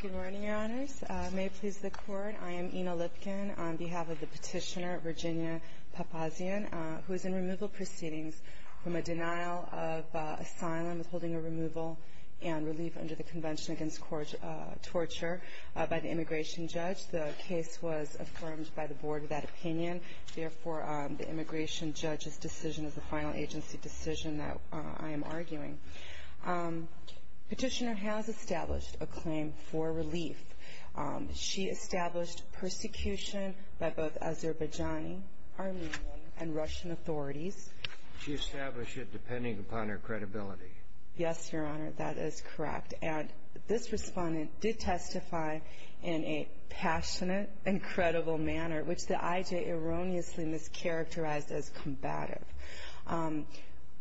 Good morning, Your Honors. May it please the Court, I am Ina Lipkin on behalf of the petitioner, Virginia Papazyan, who is in removal proceedings from a denial of asylum with holding a removal and relief under the Convention Against Torture by the Immigration Judge. The case was affirmed by the Board with that opinion. Therefore, the Immigration Judge's decision is the final agency decision that I am arguing. Petitioner has established a claim for relief. She established persecution by both Azerbaijani, Armenian, and Russian authorities. She established it depending upon her credibility. Yes, Your Honor, that is correct. And this respondent did testify in a passionate and credible manner, which the IJ erroneously mischaracterized as combative.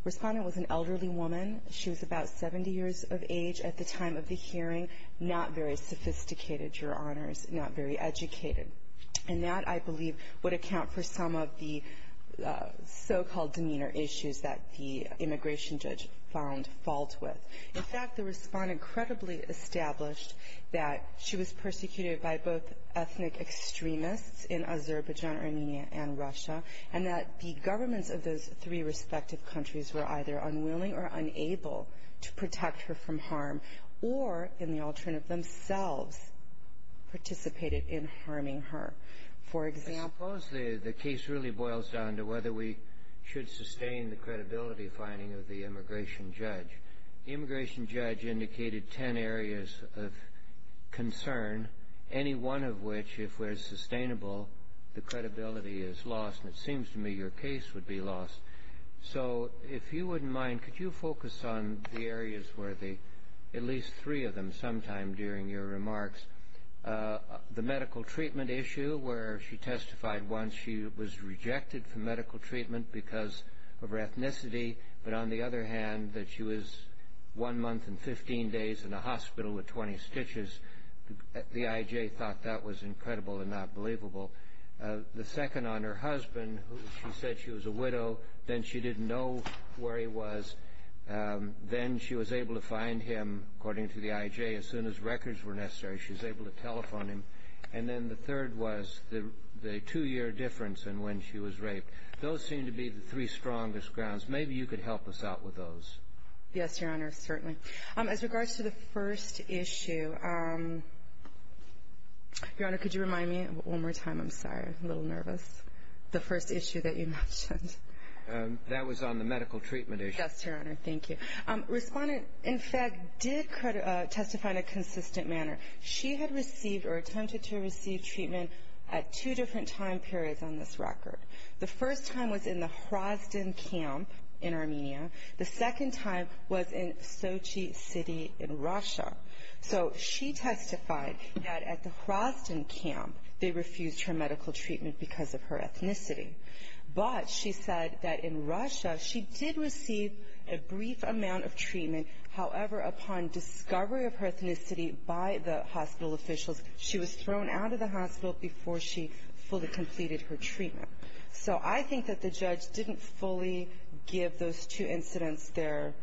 Respondent was an elderly woman. She was about 70 years of age at the time of the hearing, not very sophisticated, Your Honors, not very educated. And that, I believe, would account for some of the so-called demeanor issues that the Immigration Judge found fault with. In fact, the respondent credibly established that she was persecuted by both ethnic extremists in Azerbaijan, Armenia, and Russia, and that the governments of those three respective countries were either unwilling or unable to protect her from harm or, in the alternate themselves, participated in harming her. For example — I suppose the case really boils down to whether we should sustain the credibility finding of the Immigration Judge. The Immigration Judge indicated 10 areas of concern, any one of which, if we're sustainable, the credibility is lost. And it seems to me your case would be lost. So if you wouldn't mind, could you focus on the areas where the — at least three of them, sometime during your remarks. The medical treatment issue, where she testified once she was rejected for medical treatment because of her ethnicity, but on the other hand, that she was one month and 15 days in a hospital with 20 stitches. The IJ thought that was incredible and not believable. The second on her husband, she said she was a widow. Then she didn't know where he was. Then she was able to find him, according to the IJ, as soon as records were necessary. She was able to telephone him. And then the third was the two-year difference in when she was raped. Those seem to be the three strongest grounds. Maybe you could help us out with those. Yes, Your Honor, certainly. As regards to the first issue, Your Honor, could you remind me one more time? I'm sorry. I'm a little nervous. The first issue that you mentioned. That was on the medical treatment issue. Yes, Your Honor. Thank you. Respondent, in fact, did testify in a consistent manner. She had received or attempted to receive treatment at two different time periods on this record. The first time was in the Hrazdan camp in Armenia. The second time was in Sochi City in Russia. So she testified that at the Hrazdan camp, they refused her medical treatment because of her ethnicity. But she said that in Russia, she did receive a brief amount of treatment. However, upon discovery of her ethnicity by the hospital officials, she was thrown out of the hospital before she fully completed her treatment. So I think that the judge didn't fully give those two incidents their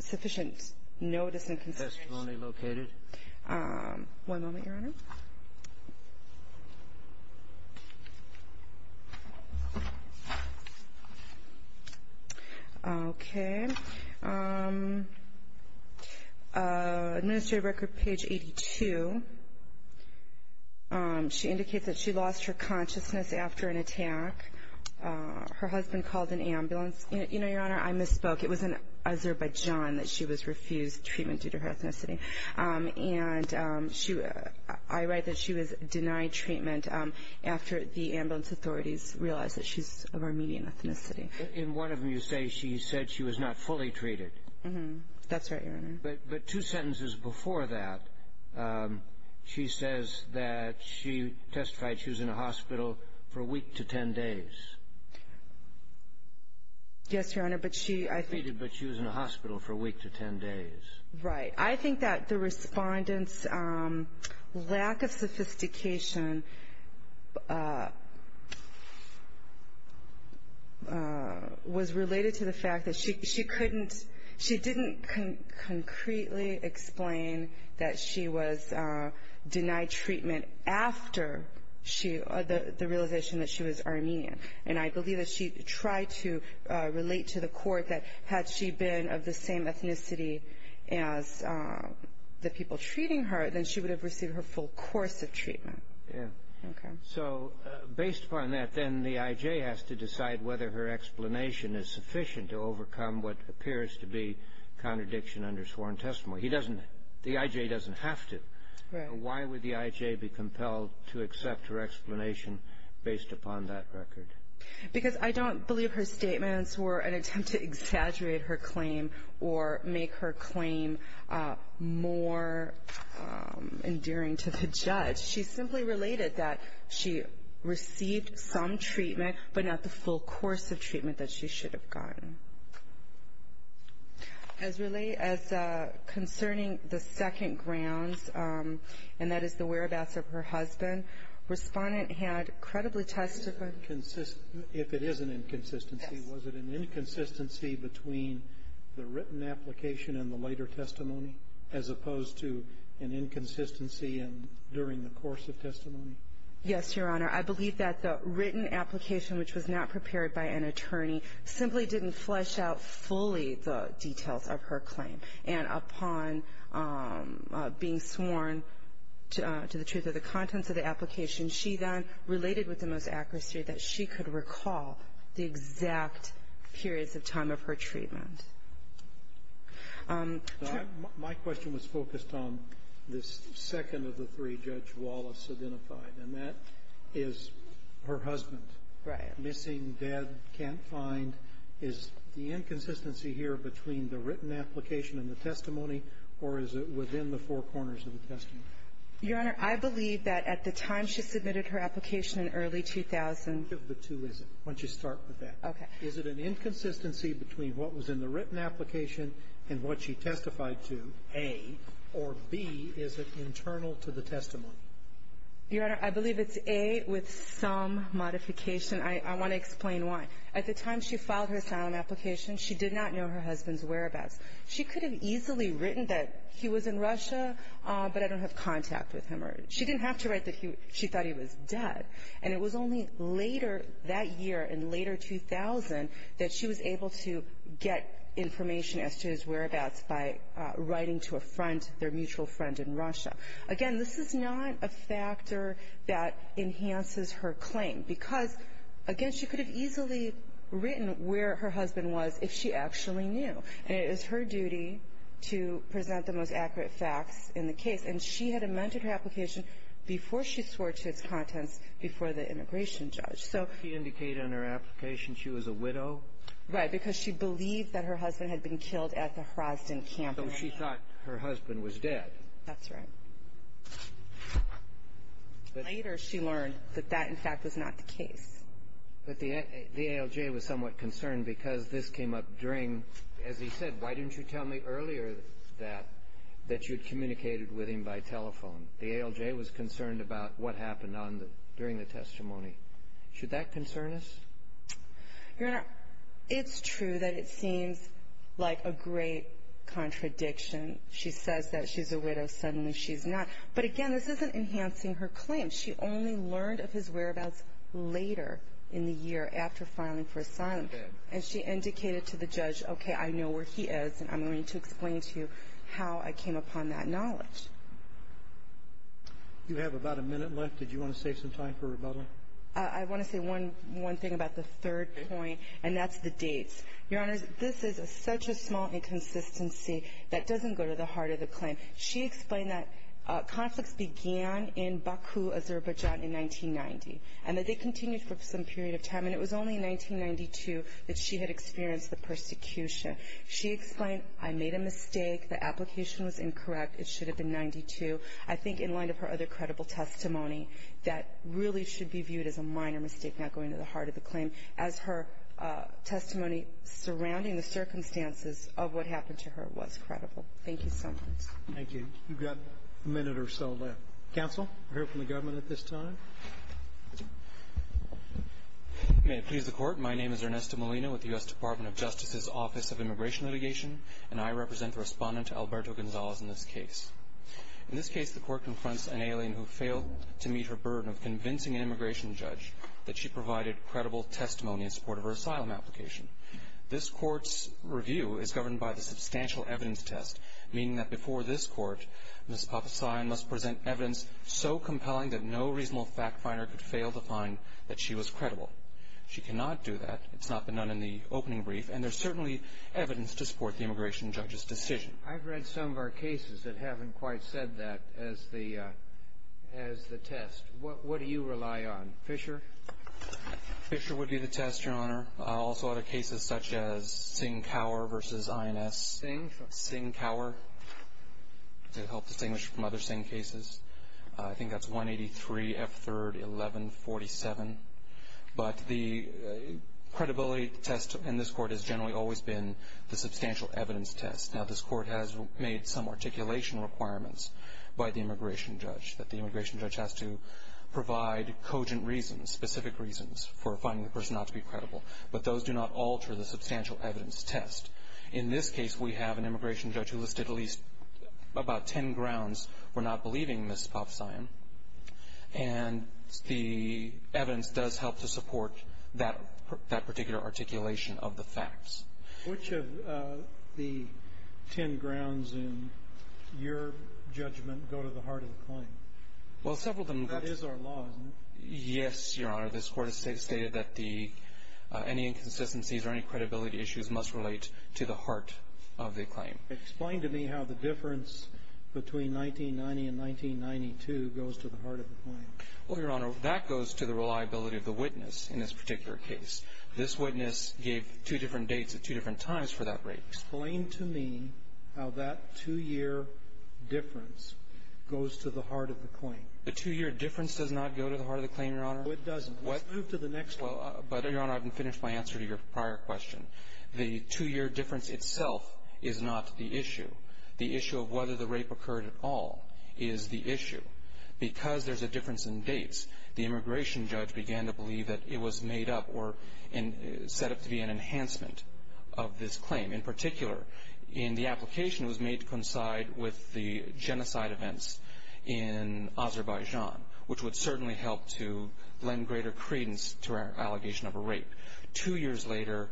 sufficient notice and consideration. Testimony located. One moment, Your Honor. Okay. Okay. Administrative record, page 82. She indicates that she lost her consciousness after an attack. Her husband called an ambulance. You know, Your Honor, I misspoke. It was in Azerbaijan that she was refused treatment due to her ethnicity. And I write that she was denied treatment after the ambulance authorities realized that she's of Armenian ethnicity. In one of them, you say she said she was not fully treated. Mm-hmm. That's right, Your Honor. But two sentences before that, she says that she testified she was in a hospital for a week to 10 days. Yes, Your Honor, but she, I think. She was treated, but she was in a hospital for a week to 10 days. Right. I think that the respondent's lack of sophistication was related to the fact that she couldn't, she didn't concretely explain that she was denied treatment after the realization that she was Armenian. And I believe that she tried to relate to the court that had she been of the same ethnicity as the people treating her, then she would have received her full course of treatment. Yeah. Okay. So based upon that, then the IJ has to decide whether her explanation is sufficient to overcome what appears to be contradiction under sworn testimony. Right. Based upon that record. Because I don't believe her statements were an attempt to exaggerate her claim or make her claim more endearing to the judge. She simply related that she received some treatment, but not the full course of treatment that she should have gotten. As concerning the second grounds, and that is the whereabouts of her husband, respondent had credibly testified. If it is an inconsistency, was it an inconsistency between the written application and the later testimony as opposed to an inconsistency during the course of testimony? Yes, Your Honor. I believe that the written application, which was not prepared by an attorney, simply didn't flesh out fully the details of her claim. And upon being sworn to the truth of the contents of the application, she then related with the most accuracy that she could recall the exact periods of time of her treatment. My question was focused on the second of the three Judge Wallace identified, and that is her husband. Right. Missing, dead, can't find. Is the inconsistency here between the written application and the testimony, or is it within the four corners of the testimony? Your Honor, I believe that at the time she submitted her application in early 2000 Which of the two is it? Why don't you start with that? Okay. Is it an inconsistency between what was in the written application and what she testified to, A, or, B, is it internal to the testimony? Your Honor, I believe it's A with some modification. I want to explain why. At the time she filed her asylum application, she did not know her husband's whereabouts. She could have easily written that he was in Russia, but I don't have contact with him. She didn't have to write that she thought he was dead. And it was only later that year, in later 2000, that she was able to get information as to his whereabouts by writing to a friend, their mutual friend in Russia. Again, this is not a factor that enhances her claim. Because, again, she could have easily written where her husband was if she actually knew. And it is her duty to present the most accurate facts in the case. And she had amended her application before she swore to its contents before the immigration judge. Did she indicate in her application she was a widow? Right, because she believed that her husband had been killed at the Hrazdan camp. So she thought her husband was dead. That's right. Later, she learned that that, in fact, was not the case. But the ALJ was somewhat concerned because this came up during, as he said, why didn't you tell me earlier that you had communicated with him by telephone? The ALJ was concerned about what happened during the testimony. Should that concern us? Your Honor, it's true that it seems like a great contradiction. She says that she's a widow. Suddenly she's not. But, again, this isn't enhancing her claim. She only learned of his whereabouts later in the year after filing for asylum. And she indicated to the judge, okay, I know where he is, and I'm going to explain to you how I came upon that knowledge. You have about a minute left. Did you want to save some time for rebuttal? I want to say one thing about the third point, and that's the dates. Your Honor, this is such a small inconsistency that doesn't go to the heart of the claim. She explained that conflicts began in Baku, Azerbaijan, in 1990, and that they continued for some period of time. And it was only in 1992 that she had experienced the persecution. She explained, I made a mistake. The application was incorrect. It should have been 92. I think in light of her other credible testimony, as her testimony surrounding the circumstances of what happened to her was credible. Thank you so much. Thank you. You've got a minute or so left. Counsel, we'll hear from the government at this time. May it please the Court. My name is Ernesto Molina with the U.S. Department of Justice's Office of Immigration Litigation, and I represent the Respondent Alberto Gonzalez in this case. In this case, the Court confronts an alien who failed to meet her burden of convincing an immigration judge that she provided credible testimony in support of her asylum application. This Court's review is governed by the substantial evidence test, meaning that before this Court, Ms. Papasan must present evidence so compelling that no reasonable fact finder could fail to find that she was credible. She cannot do that. It's not been done in the opening brief. And there's certainly evidence to support the immigration judge's decision. I've read some of our cases that haven't quite said that as the test. What do you rely on? Fisher? Fisher would be the test, Your Honor. I also audit cases such as Singh-Cower v. INS. Singh? Singh-Cower to help distinguish from other Singh cases. I think that's 183 F. 3rd, 1147. But the credibility test in this Court has generally always been the substantial evidence test. Now, this Court has made some articulation requirements by the immigration judge, that the immigration judge has to provide cogent reasons, specific reasons for finding the person not to be credible. But those do not alter the substantial evidence test. In this case, we have an immigration judge who listed at least about ten grounds for not believing Ms. Papasan. And the evidence does help to support that particular articulation of the facts. Which of the ten grounds in your judgment go to the heart of the claim? Well, several of them. That is our law, isn't it? Yes, Your Honor. This Court has stated that any inconsistencies or any credibility issues must relate to the heart of the claim. Explain to me how the difference between 1990 and 1992 goes to the heart of the claim. Well, Your Honor, that goes to the reliability of the witness in this particular case. This witness gave two different dates at two different times for that rape. Explain to me how that two-year difference goes to the heart of the claim. The two-year difference does not go to the heart of the claim, Your Honor. No, it doesn't. Let's move to the next one. But, Your Honor, I haven't finished my answer to your prior question. The two-year difference itself is not the issue. The issue of whether the rape occurred at all is the issue. Because there's a difference in dates, the immigration judge began to believe that it was made up or set up to be an enhancement of this claim. In particular, in the application, it was made to coincide with the genocide events in Azerbaijan, which would certainly help to lend greater credence to our allegation of a rape. Two years later,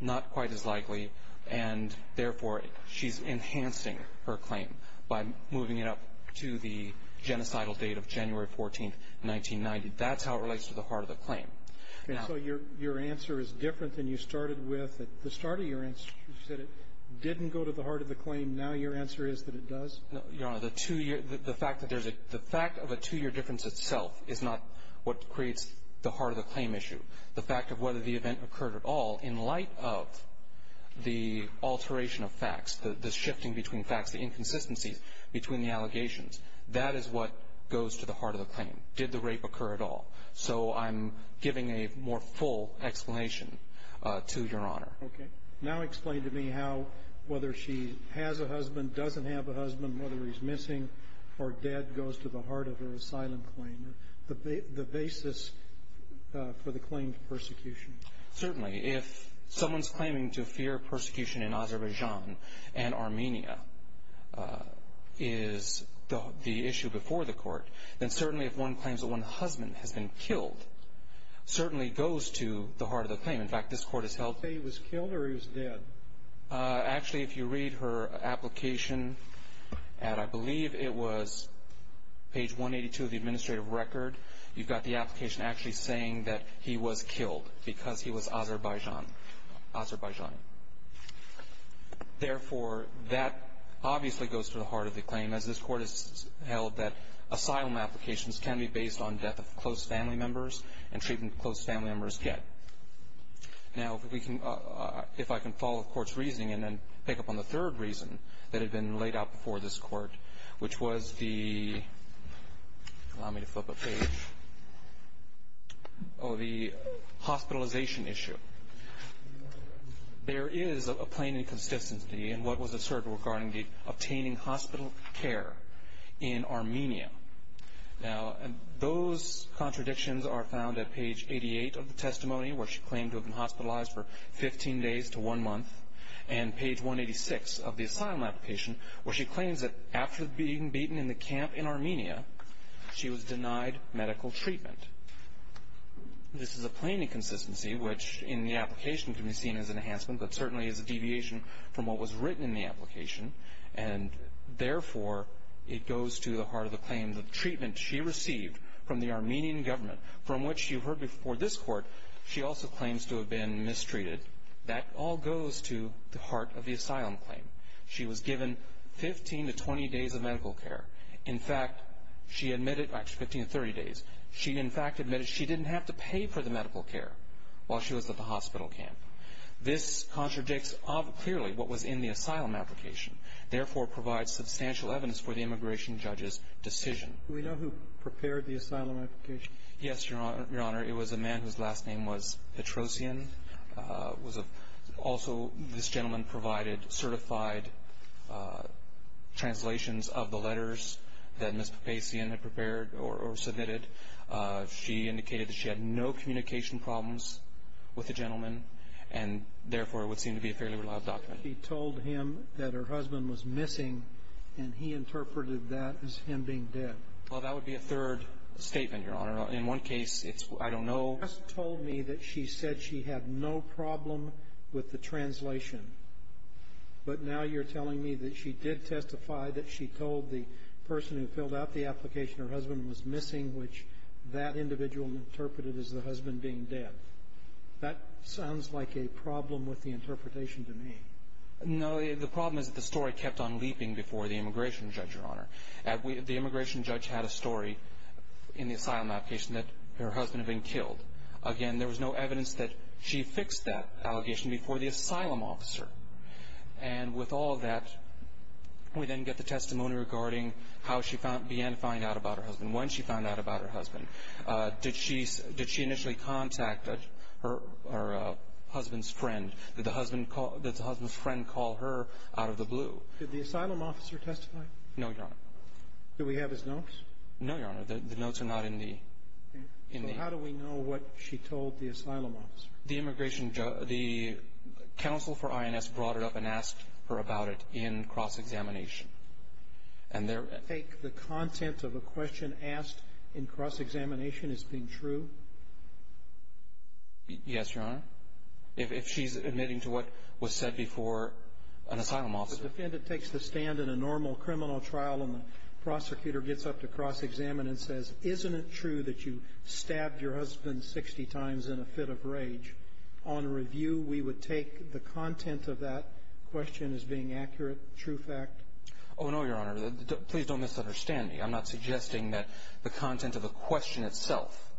not quite as likely, and, therefore, she's enhancing her claim by moving it up to the genocidal date of January 14, 1990. That's how it relates to the heart of the claim. And so your answer is different than you started with. At the start of your answer, you said it didn't go to the heart of the claim. Now your answer is that it does? No, Your Honor. The fact that there's a – the fact of a two-year difference itself is not what creates the heart of the claim issue. The fact of whether the event occurred at all, in light of the alteration of facts, the shifting between facts, the inconsistencies between the allegations, that is what goes to the heart of the claim. Did the rape occur at all? So I'm giving a more full explanation to Your Honor. Okay. Now explain to me how, whether she has a husband, doesn't have a husband, whether he's missing, or dead, goes to the heart of her asylum claim. The basis for the claim to persecution. Certainly. If someone's claiming to fear persecution in Azerbaijan and Armenia is the issue before the court, then certainly if one claims that one husband has been killed, certainly goes to the heart of the claim. In fact, this court has held – So he was killed or he was dead? Actually, if you read her application at, I believe it was page 182 of the administrative record, you've got the application actually saying that he was killed because he was Azerbaijani. Therefore, that obviously goes to the heart of the claim, as this court has held that asylum applications can be based on death of close family members and treatment that close family members get. Now, if I can follow the court's reasoning and then pick up on the third reason that had been laid out before this court, which was the – allow me to flip a page – the hospitalization issue. There is a plain inconsistency in what was asserted regarding the obtaining hospital care in Armenia. Now, those contradictions are found at page 88 of the testimony, where she claimed to have been hospitalized for 15 days to one month, and page 186 of the asylum application, where she claims that after being beaten in the camp in Armenia, she was denied medical treatment. This is a plain inconsistency, which in the application can be seen as an enhancement, but certainly is a deviation from what was written in the application. And therefore, it goes to the heart of the claim that the treatment she received from the Armenian government, from which you heard before this court, she also claims to have been mistreated. That all goes to the heart of the asylum claim. She was given 15 to 20 days of medical care. In fact, she admitted – actually, 15 to 30 days. She, in fact, admitted she didn't have to pay for the medical care while she was at the hospital camp. This contradicts clearly what was in the asylum application, therefore provides substantial evidence for the immigration judge's decision. Do we know who prepared the asylum application? Yes, Your Honor. It was a man whose last name was Petrosian. Also, this gentleman provided certified translations of the letters that Ms. Petrosian had prepared or submitted. She indicated that she had no communication problems with the gentleman and therefore it would seem to be a fairly reliable document. She told him that her husband was missing, and he interpreted that as him being dead. Well, that would be a third statement, Your Honor. In one case, it's I don't know. You just told me that she said she had no problem with the translation, but now you're telling me that she did testify that she told the person who filled out the application her husband was missing, which that individual interpreted as the husband being dead. That sounds like a problem with the interpretation to me. No, the problem is that the story kept on leaping before the immigration judge, Your Honor. The immigration judge had a story in the asylum application that her husband had been killed. Again, there was no evidence that she fixed that allegation before the asylum officer. And with all of that, we then get the testimony regarding how she began to find out about her husband, when she found out about her husband. Did she initially contact her husband's friend? Did the husband's friend call her out of the blue? Did the asylum officer testify? No, Your Honor. Do we have his notes? No, Your Honor. The notes are not in the ---- So how do we know what she told the asylum officer? The immigration judge ---- the counsel for INS brought it up and asked her about it in cross-examination. And there ---- Do you think the content of a question asked in cross-examination is being true? Yes, Your Honor. If she's admitting to what was said before an asylum officer ---- If a defendant takes the stand in a normal criminal trial and the prosecutor gets up to cross-examine and says, isn't it true that you stabbed your husband 60 times in a fit of rage, on review we would take the content of that question as being accurate, true fact? Oh, no, Your Honor. Please don't misunderstand me. I'm not suggesting that the content of the question itself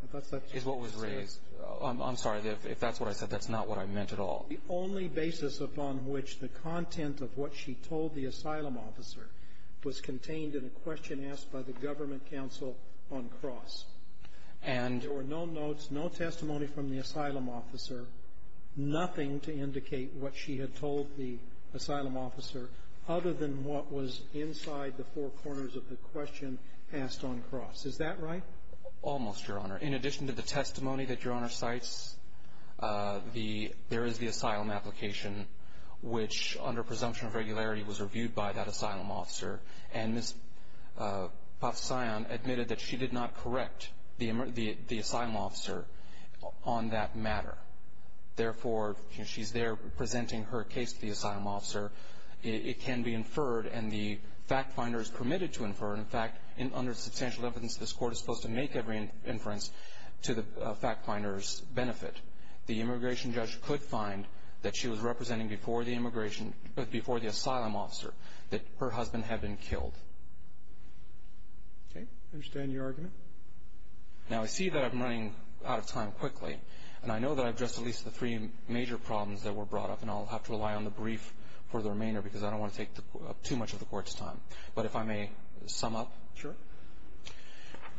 is what was raised. I'm sorry. If that's what I said, that's not what I meant at all. The only basis upon which the content of what she told the asylum officer was contained in a question asked by the government counsel on cross. And ---- There were no notes, no testimony from the asylum officer, nothing to indicate what she had told the asylum officer other than what was inside the four corners of the question asked on cross. Is that right? Almost, Your Honor. In addition to the testimony that Your Honor cites, there is the asylum application, which under presumption of regularity was reviewed by that asylum officer. And Ms. Pafsayan admitted that she did not correct the asylum officer on that matter. Therefore, she's there presenting her case to the asylum officer. It can be inferred, and the fact finder is permitted to infer. In fact, under substantial evidence, this Court is supposed to make every inference to the fact finder's benefit. The immigration judge could find that she was representing before the immigration ---- before the asylum officer that her husband had been killed. Okay. I understand your argument. Now, I see that I'm running out of time quickly. And I know that I've addressed at least the three major problems that were brought up, and I'll have to rely on the brief for the remainder because I don't want to take too much of the Court's time. But if I may sum up. Sure.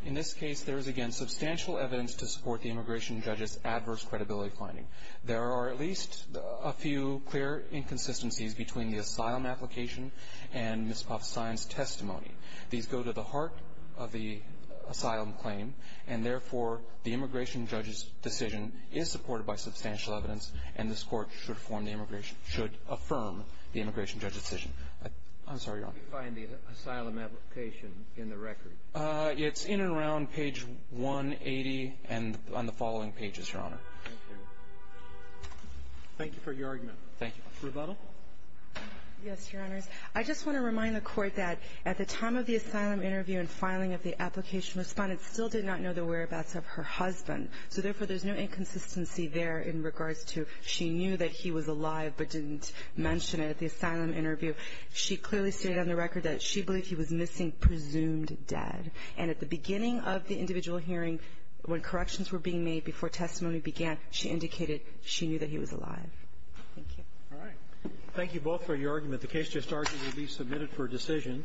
In this case, there is, again, substantial evidence to support the immigration judge's adverse credibility finding. There are at least a few clear inconsistencies between the asylum application and Ms. Pafsayan's testimony. These go to the heart of the asylum claim, and therefore, the immigration judge's decision is supported by substantial evidence, and this Court should form the immigration ---- should affirm the immigration judge's decision. I'm sorry, Your Honor. How do you find the asylum application in the record? It's in and around page 180 and on the following pages, Your Honor. Thank you. Thank you for your argument. Thank you. Rebuttal? Yes, Your Honors. I just want to remind the Court that at the time of the asylum interview and filing of the application, Respondent still did not know the whereabouts of her husband. So, therefore, there's no inconsistency there in regards to she knew that he was alive but didn't mention it at the asylum interview. She clearly stated on the record that she believed he was missing, presumed dead. And at the beginning of the individual hearing, when corrections were being made before testimony began, she indicated she knew that he was alive. Thank you. All right. Thank you both for your argument. The case just argued to be submitted for decision.